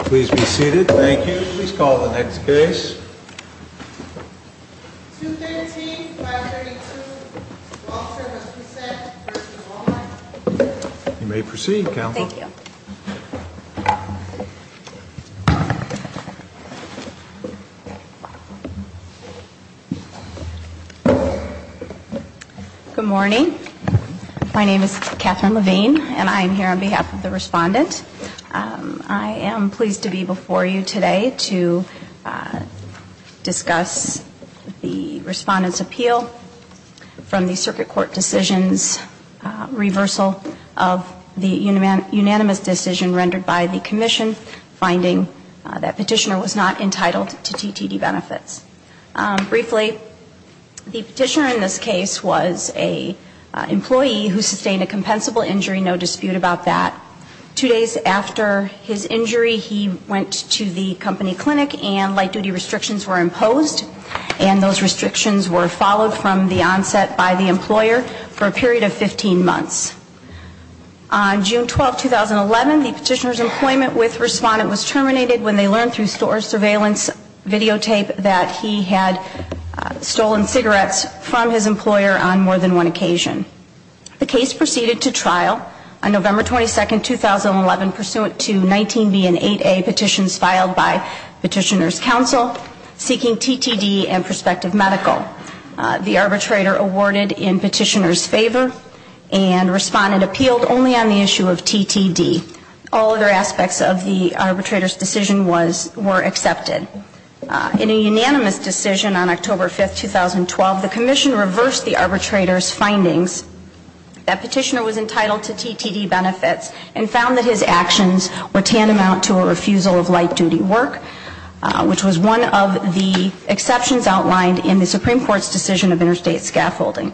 Please be seated. Thank you. Please call the next case. You may proceed, Counselor. Thank you. Good morning. My name is Catherine Levine, and I am here on behalf of the Respondent. I am pleased to be before you today to discuss the Respondent's Appeal from the Circuit Court Decisions Reversal of the Unanimous Decision rendered by the Commission, finding that Petitioner was not entitled to TTD benefits. Briefly, the Petitioner in this case was an employee who sustained a compensable injury, no dispute about that. Two days after his injury, he went to the company clinic and light-duty restrictions were imposed, and those restrictions were followed from the onset by the employer for a period of 15 months. On June 12, 2011, the Petitioner's employment with Respondent was terminated when they learned through store surveillance videotape that he had stolen cigarettes from his employer on more than one occasion. The case proceeded to trial on November 22, 2011, pursuant to 19B and 8A petitions filed by Petitioner's Counsel, seeking TTD and prospective medical. The Arbitrator awarded in Petitioner's favor, and Respondent appealed only on the issue of TTD. All other aspects of the Arbitrator's decision were accepted. In a unanimous decision on October 5, 2012, the Commission reversed the Arbitrator's findings that Petitioner was entitled to TTD benefits and found that his actions were tantamount to a refusal of light-duty work, which was one of the exceptions outlined in the Supreme Court's decision of interstate scaffolding.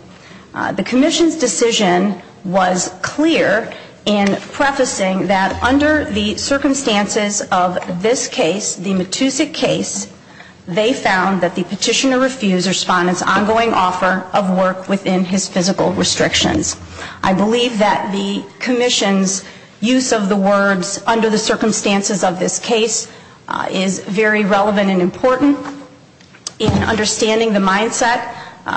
The Commission's decision was clear in prefacing that under the circumstances of this case, the Matusik case, they found that the Petitioner refused Respondent's ongoing offer of work within his physical restrictions. I believe that the Commission's use of the words, under the circumstances of this case, is very relevant and important in understanding the mindset,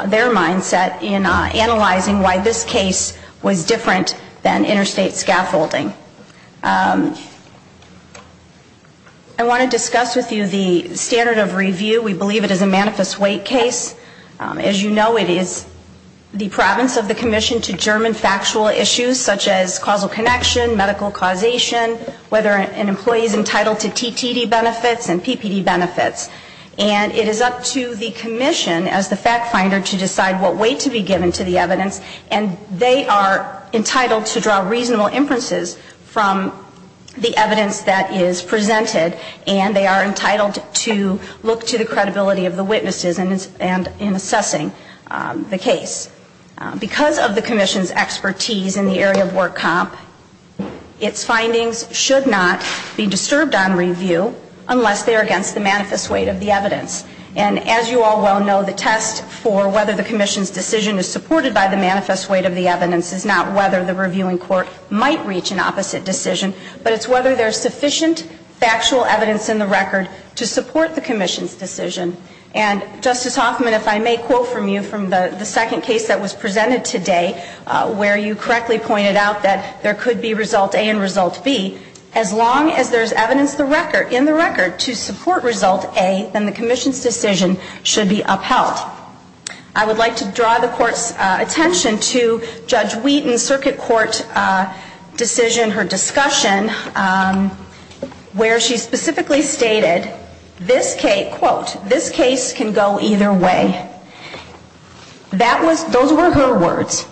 their mindset, in analyzing why this case was different than interstate scaffolding. I want to discuss with you the standard of review. We believe it is a manifest weight case. As you know, it is the province of the Commission to German factual issues such as causal connection, medical causation, whether an employee is entitled to TTD benefits and PPD benefits. And it is up to the Commission, as the fact finder, to decide what weight to be given to the evidence. And they are entitled to draw reasonable inferences from the evidence that is presented, and they are entitled to look to the credibility of the witnesses in assessing the case. Because of the Commission's expertise in the area of work comp, its findings should not be disturbed on review unless they are against the manifest weight of the evidence. And as you all well know, the test for whether the Commission's decision is supported by the manifest weight of the evidence is not whether the reviewing court might reach an opposite decision, but it's whether there is sufficient factual evidence in the record to support the Commission's decision. And, Justice Hoffman, if I may quote from you from the second case that was presented today, where you correctly pointed out that there could be Result A and Result B, as long as there is evidence in the record to support Result A, then the Commission's decision should be upheld. I would like to draw the Court's attention to Judge Wheaton's Circuit Court decision, her discussion, where she specifically stated, quote, this case can go either way. Those were her words.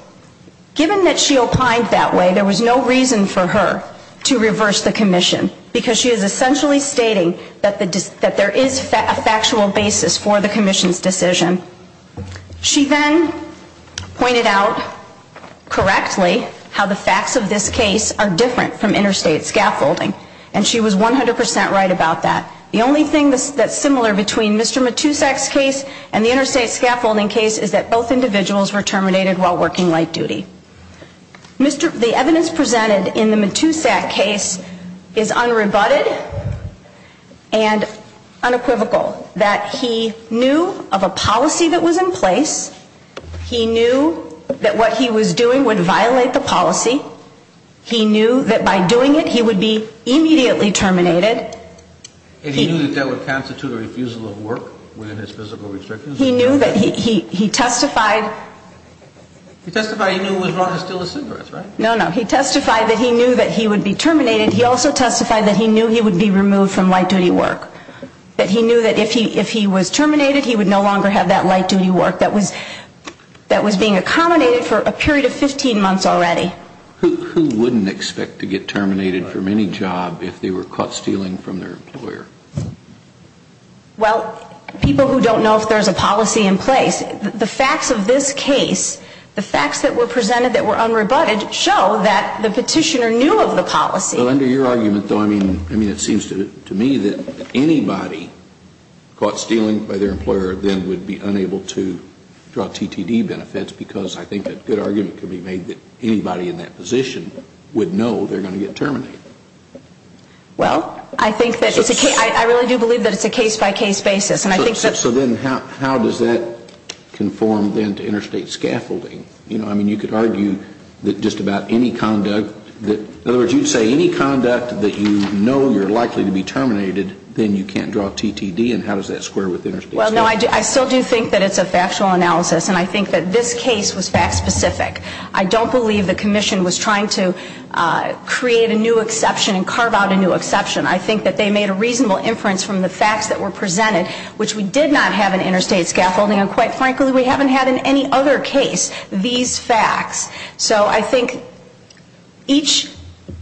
Given that she opined that way, there was no reason for her to reverse the Commission, because she is essentially stating that there is a factual basis for the Commission's decision. She then pointed out correctly how the facts of this case are different from interstate scaffolding, and she was 100% right about that. The only thing that's similar between Mr. Matusak's case and the interstate scaffolding case is that both individuals were terminated while working light duty. The evidence presented in the Matusak case is unrebutted and unequivocal, that he knew of a policy that was in place. He knew that what he was doing would violate the policy. He knew that by doing it, he would be immediately terminated. And he knew that that would constitute a refusal of work within his physical restrictions? He knew that he testified. He testified he knew it was wrong to steal a cigarette, right? No, no. He testified that he knew that he would be terminated. He also testified that he knew he would be removed from light duty work. That he knew that if he was terminated, he would no longer have that light duty work that was being accommodated for a period of 15 months already. Who wouldn't expect to get terminated from any job if they were caught stealing from their employer? Well, people who don't know if there's a policy in place. The facts of this case, the facts that were presented that were unrebutted show that the petitioner knew of the policy. Well, under your argument, though, I mean, it seems to me that anybody caught stealing by their employer then would be unable to draw TTD benefits because I think a good argument could be made that anybody in that position would know they're going to get terminated. Well, I think that it's a case, I really do believe that it's a case-by-case basis. So then how does that conform then to interstate scaffolding? You know, I mean, you could argue that just about any conduct that, in other words, you'd say any conduct that you know you're likely to be terminated, then you can't draw TTD and how does that square with interstate scaffolding? Well, no, I still do think that it's a factual analysis and I think that this case was fact-specific. I don't believe the commission was trying to create a new exception and carve out a new exception. I think that they made a reasonable inference from the facts that were presented, which we did not have in interstate scaffolding and quite frankly we haven't had in any other case these facts. So I think each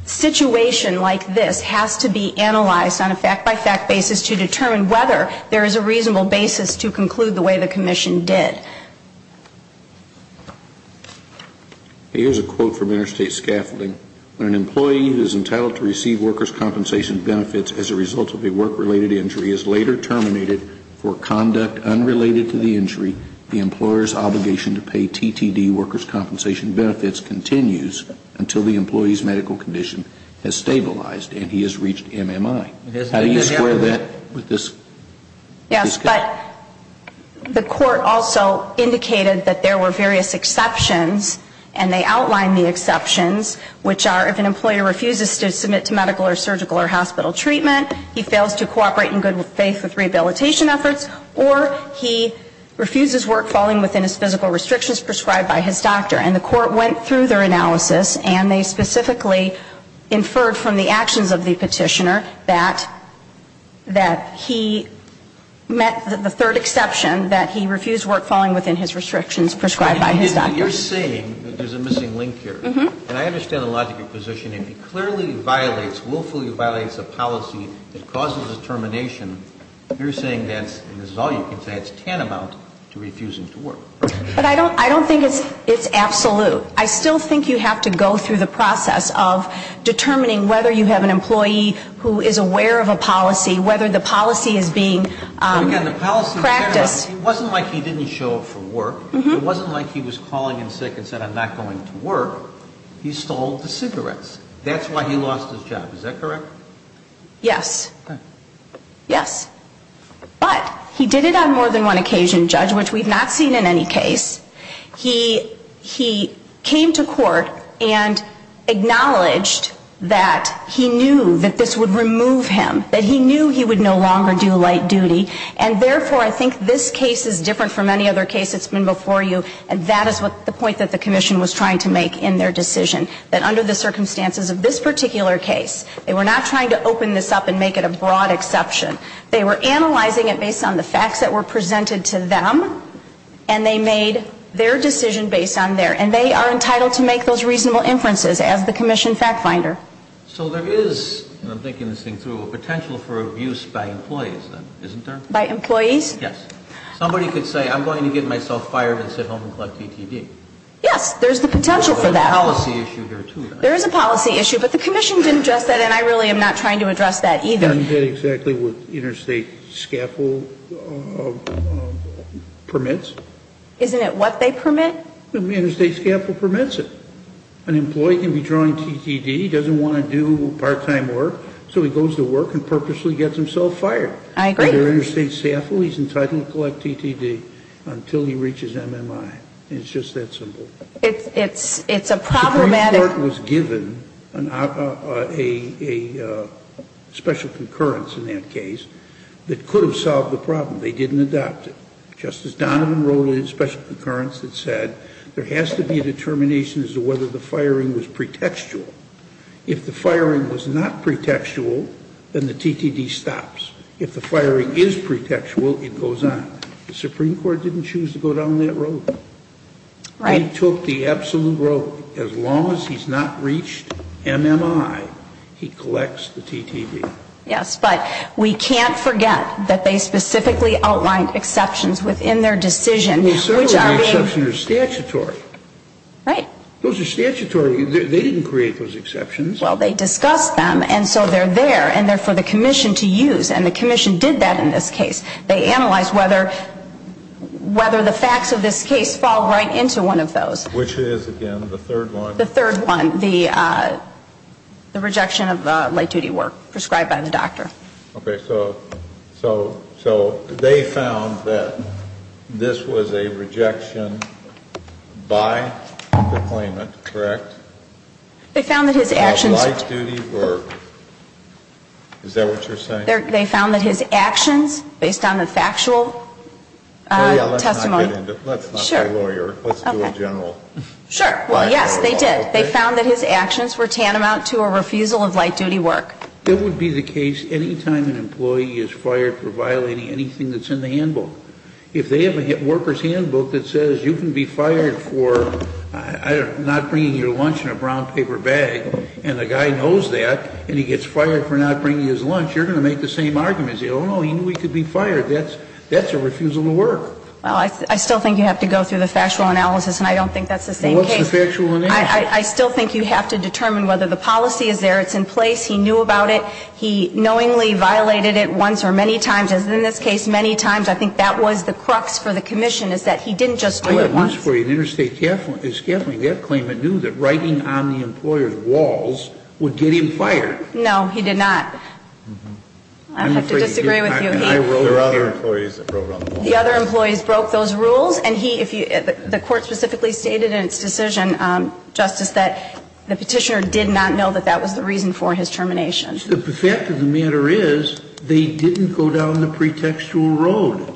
situation like this has to be analyzed on a fact-by-fact basis to determine whether there is a reasonable basis to conclude the way the commission did. Here's a quote from interstate scaffolding. An employee who is entitled to receive workers' compensation benefits as a result of a work-related injury is later terminated for conduct unrelated to the injury. The employer's obligation to pay TTD workers' compensation benefits continues until the employee's medical condition has stabilized and he has reached MMI. How do you square that with this case? Yes, but the court also indicated that there were various exceptions and they outlined the exceptions, which are if an employer refuses to submit to medical or surgical or hospital treatment, he fails to cooperate in good faith with rehabilitation efforts, or he refuses work following within his physical restrictions prescribed by his doctor. And the court went through their analysis and they specifically inferred from the actions of the Petitioner that he met the third exception, that he refused work following within his restrictions prescribed by his doctor. You're saying that there's a missing link here. And I understand the logic of your position. If he clearly violates, willfully violates a policy that causes a termination, you're saying that's, and this is all you can say, it's tantamount to refusing to work. But I don't, I don't think it's, it's absolute. I still think you have to go through the process of determining whether you have an employee who is aware of a policy, whether the policy is being practiced. It wasn't like he didn't show up for work. It wasn't like he was calling in sick and said, I'm not going to work. He stole the cigarettes. That's why he lost his job. Is that correct? Yes. Yes. But he did it on more than one occasion, Judge, which we've not seen in any case. He, he came to court and acknowledged that he knew that this would remove him, that he knew he would no longer do light duty. And therefore, I think this case is different from any other case that's been before you. And that is what the point that the Commission was trying to make in their decision, that under the circumstances of this particular case, they were not trying to open this up and make it a broad exception. They were analyzing it based on the facts that were presented to them, and they made their decision based on theirs. And they are entitled to make those reasonable inferences as the Commission fact finder. So there is, and I'm thinking this thing through, a potential for abuse by employees, then, isn't there? By employees? Yes. Somebody could say, I'm going to get myself fired and sit home and collect DTD. Yes. There's the potential for that. There's a policy issue there, too. There is a policy issue. But the Commission didn't address that, and I really am not trying to address that either. I'm trying to get exactly what interstate scaffold permits. Isn't it what they permit? Interstate scaffold permits it. An employee can be drawing DTD. He doesn't want to do part-time work, so he goes to work and purposely gets himself fired. I agree. Under interstate scaffold, he's entitled to collect DTD until he reaches MMI. It's just that simple. It's a problematic. The Supreme Court was given a special concurrence in that case that could have solved the problem. They didn't adopt it. Justice Donovan wrote a special concurrence that said there has to be a determination as to whether the firing was pretextual. If the firing was not pretextual, then the DTD stops. If the firing is pretextual, it goes on. The Supreme Court didn't choose to go down that road. Right. He took the absolute road. As long as he's not reached MMI, he collects the DTD. Yes, but we can't forget that they specifically outlined exceptions within their decision. The exceptions are statutory. Right. Those are statutory. They didn't create those exceptions. Well, they discussed them, and so they're there, and they're for the commission to use. And the commission did that in this case. They analyzed whether the facts of this case fall right into one of those. Which is, again, the third one. The third one, the rejection of light-duty work prescribed by the doctor. Okay. So they found that this was a rejection by the claimant, correct? They found that his actions. Of light-duty work. Is that what you're saying? They found that his actions, based on the factual testimony. Let's not get into it. Let's not be a lawyer. Let's do a general. Sure. Well, yes, they did. They found that his actions were tantamount to a refusal of light-duty work. It would be the case any time an employee is fired for violating anything that's in the handbook. If they have a worker's handbook that says you can be fired for not bringing your lunch in a brown paper bag, and the guy knows that, and he gets fired for not bringing his lunch, you're going to make the same arguments. Oh, no, he knew he could be fired. That's a refusal to work. Well, I still think you have to go through the factual analysis, and I don't think that's the same case. Well, what's the factual analysis? I still think you have to determine whether the policy is there. It's in place. He knew about it. He knowingly violated it once or many times, as in this case, many times. I think that was the crux for the commission, is that he didn't just do it once. Oh, I have news for you. In interstate scaffolding, that claimant knew that writing on the employer's walls would get him fired. No, he did not. I don't have to disagree with you. There are other employees that wrote on the walls. The other employees broke those rules, and he, if you, the court specifically stated in its decision, Justice, that the petitioner did not know that that was the reason for his termination. The fact of the matter is, they didn't go down the pretextual road.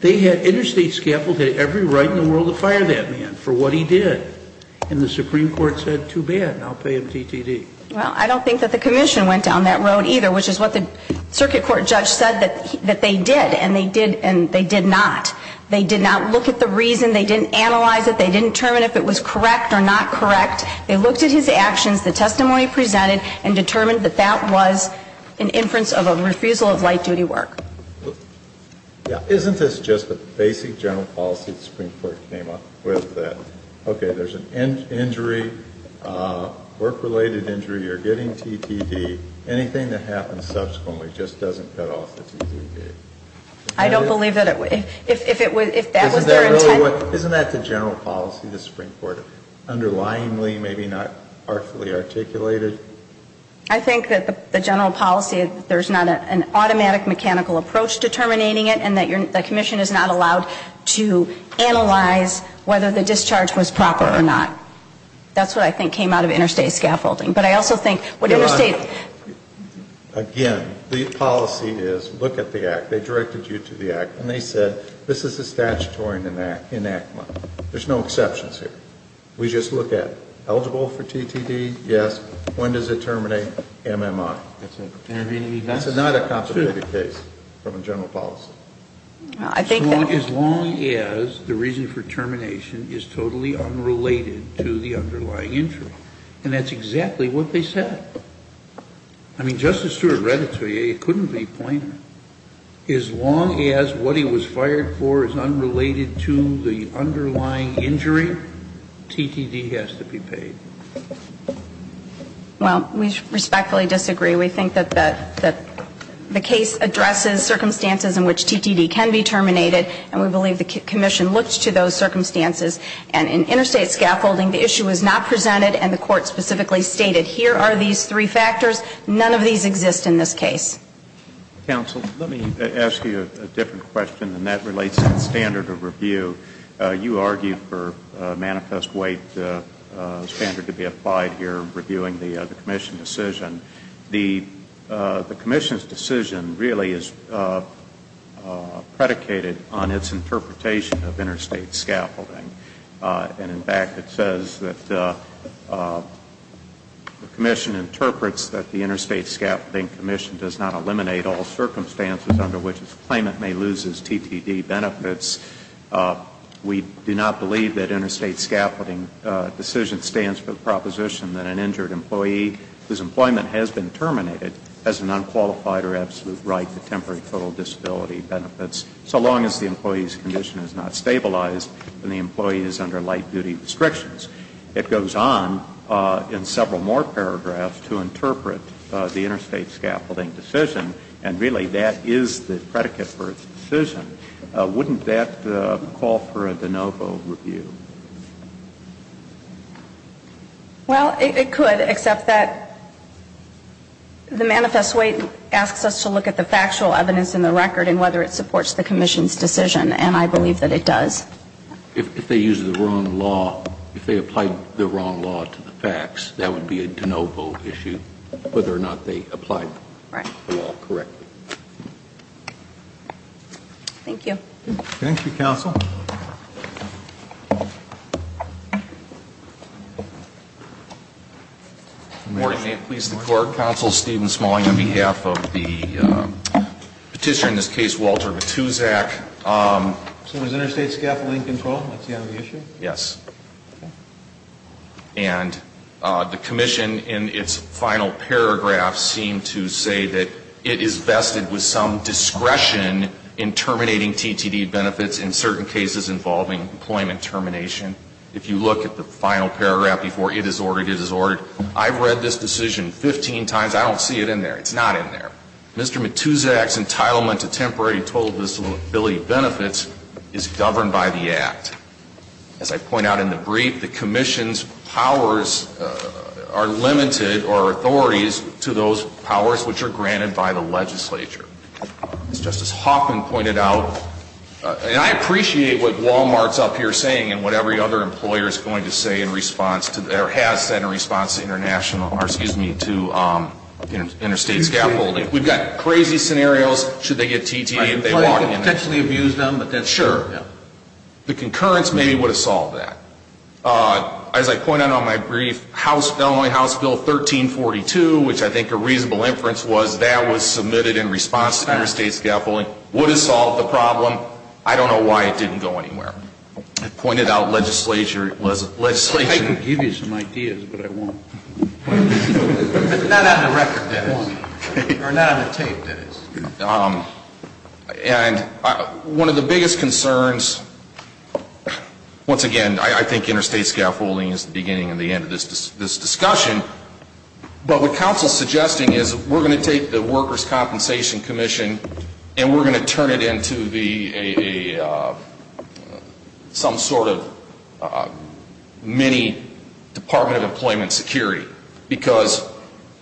They had, interstate scaffolding had every right in the world to fire that man for what he did, and the Supreme Court said, too bad, I'll pay him TTD. Well, I don't think that the commission went down that road either, which is what the circuit court judge said that they did, and they did not. They did not look at the reason. They didn't analyze it. They didn't determine if it was correct or not correct. They looked at his actions, the testimony he presented, and determined that that was an inference of a refusal of light-duty work. Isn't this just a basic general policy the Supreme Court came up with, that, okay, there's an injury, work-related injury, you're getting TTD, anything that happens subsequently just doesn't cut off the TTD? I don't believe that it would. If it was, if that was their intent. Isn't that really what, isn't that the general policy the Supreme Court, underlyingly maybe not artfully articulated? I think that the general policy, there's not an automatic mechanical approach to terminating it, and that your, the commission is not allowed to analyze whether the discharge was proper or not. That's what I think came out of interstate scaffolding. But I also think what interstate... Again, the policy is, look at the act. They directed you to the act, and they said, this is a statutory enactment. There's no exceptions here. We just look at eligible for TTD, yes. When does it terminate? MMI. That's an intervening event. That's not a complicated case from a general policy. As long as the reason for termination is totally unrelated to the underlying injury. And that's exactly what they said. I mean, Justice Stewart read it to you. It couldn't be plainer. As long as what he was fired for is unrelated to the underlying injury, TTD has to be paid. Well, we respectfully disagree. We think that the case addresses circumstances in which TTD can be terminated, and we believe the commission looks to those circumstances. And in interstate scaffolding, the issue is not presented, and the court specifically stated, here are these three factors. None of these exist in this case. Counsel, let me ask you a different question, and that relates to the standard of review. You argued for a manifest weight standard to be applied here reviewing the commission decision. The commission's decision really is predicated on its interpretation of interstate scaffolding. And, in fact, it says that the commission interprets that the interstate scaffolding commission does not eliminate all circumstances under which its claimant may lose its TTD benefits. We do not believe that interstate scaffolding decision stands for the proposition that an injured employee whose employment has been terminated has an unqualified or absolute right to temporary total disability benefits, so long as the employee's condition is not stabilized and the employee is under light-duty restrictions. It goes on in several more paragraphs to interpret the interstate scaffolding decision, and really that is the predicate for its decision. Wouldn't that call for a de novo review? Well, it could, except that the manifest weight asks us to look at the factual evidence in the record and whether it supports the commission's decision, and I believe that it does. If they use the wrong law, if they applied the wrong law to the facts, that would be a de novo issue, whether or not they applied the law correctly. Right. Thank you. Thank you, counsel. Morning. Please, the court. Counsel Stephen Smalling on behalf of the petitioner in this case, Walter Matuszak. So is interstate scaffolding controlled? That's the only issue? Yes. And the commission in its final paragraph seemed to say that it is vested with some discretion in terminating TTD benefits in certain cases. I've read this decision 15 times. I don't see it in there. It's not in there. Mr. Matuszak's entitlement to temporary total disability benefits is governed by the Act. As I point out in the brief, the commission's powers are limited or authorities to those powers which are granted by the legislature. I appreciate what Wal-Mart's up here saying and what every other employer is going to say in response to, or has said in response to international, or excuse me, to interstate scaffolding. We've got crazy scenarios. Should they get TTD? Right. Employers could potentially abuse them. Sure. The concurrence maybe would have solved that. As I point out in my brief, the Illinois House Bill 1342, which I think a reasonable inference was that was submitted in response to interstate scaffolding, would have solved the problem. I don't know why it didn't go anywhere. It pointed out legislation. I can give you some ideas, but I won't. Not on the record, that is. Or not on the tape, that is. And one of the biggest concerns, once again, I think interstate scaffolding is the beginning and the end of this discussion, but what counsel is suggesting is we're going to turn it into some sort of mini Department of Employment security. Because,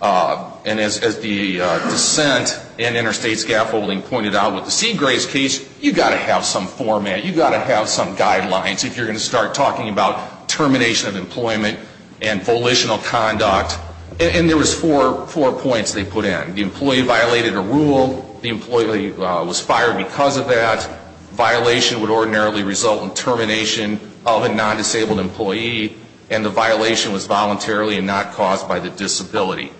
and as the dissent in interstate scaffolding pointed out with the Seagrace case, you've got to have some format. You've got to have some guidelines if you're going to start talking about termination of employment and volitional conduct. And there was four points they put in. The employee violated a rule. The employee was fired because of that. Violation would ordinarily result in termination of a non-disabled employee. And the violation was voluntarily and not caused by the disability.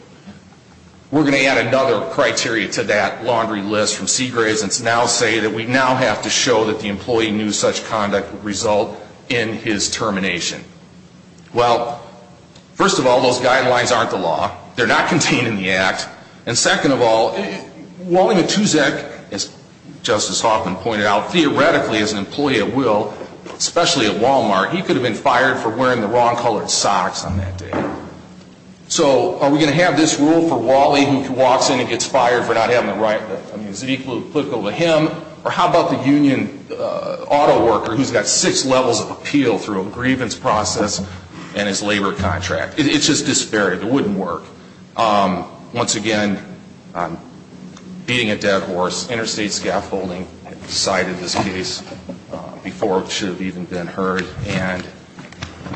We're going to add another criteria to that laundry list from Seagrace and now say that we now have to show that the employee knew such conduct would result in his termination. Well, first of all, those guidelines aren't the law. They're not contained in the act. And second of all, Wally Matuszek, as Justice Hoffman pointed out, theoretically as an employee at will, especially at Wal-Mart, he could have been fired for wearing the wrong colored socks on that day. So are we going to have this rule for Wally who walks in and gets fired for not having the right, I mean, is it equal to him? Or how about the union autoworker who's got six levels of appeal through a grievance process and his labor contract? It's just disparity. It wouldn't work. Once again, beating a dead horse, interstate scaffolding, the side of this case before it should have even been heard, and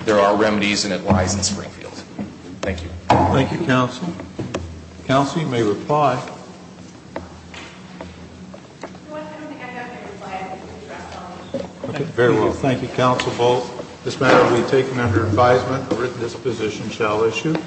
there are remedies and it lies in Springfield. Thank you. Thank you, counsel. Counsel, you may reply. Thank you, counsel, both. This matter will be taken under advisement. This position shall issue.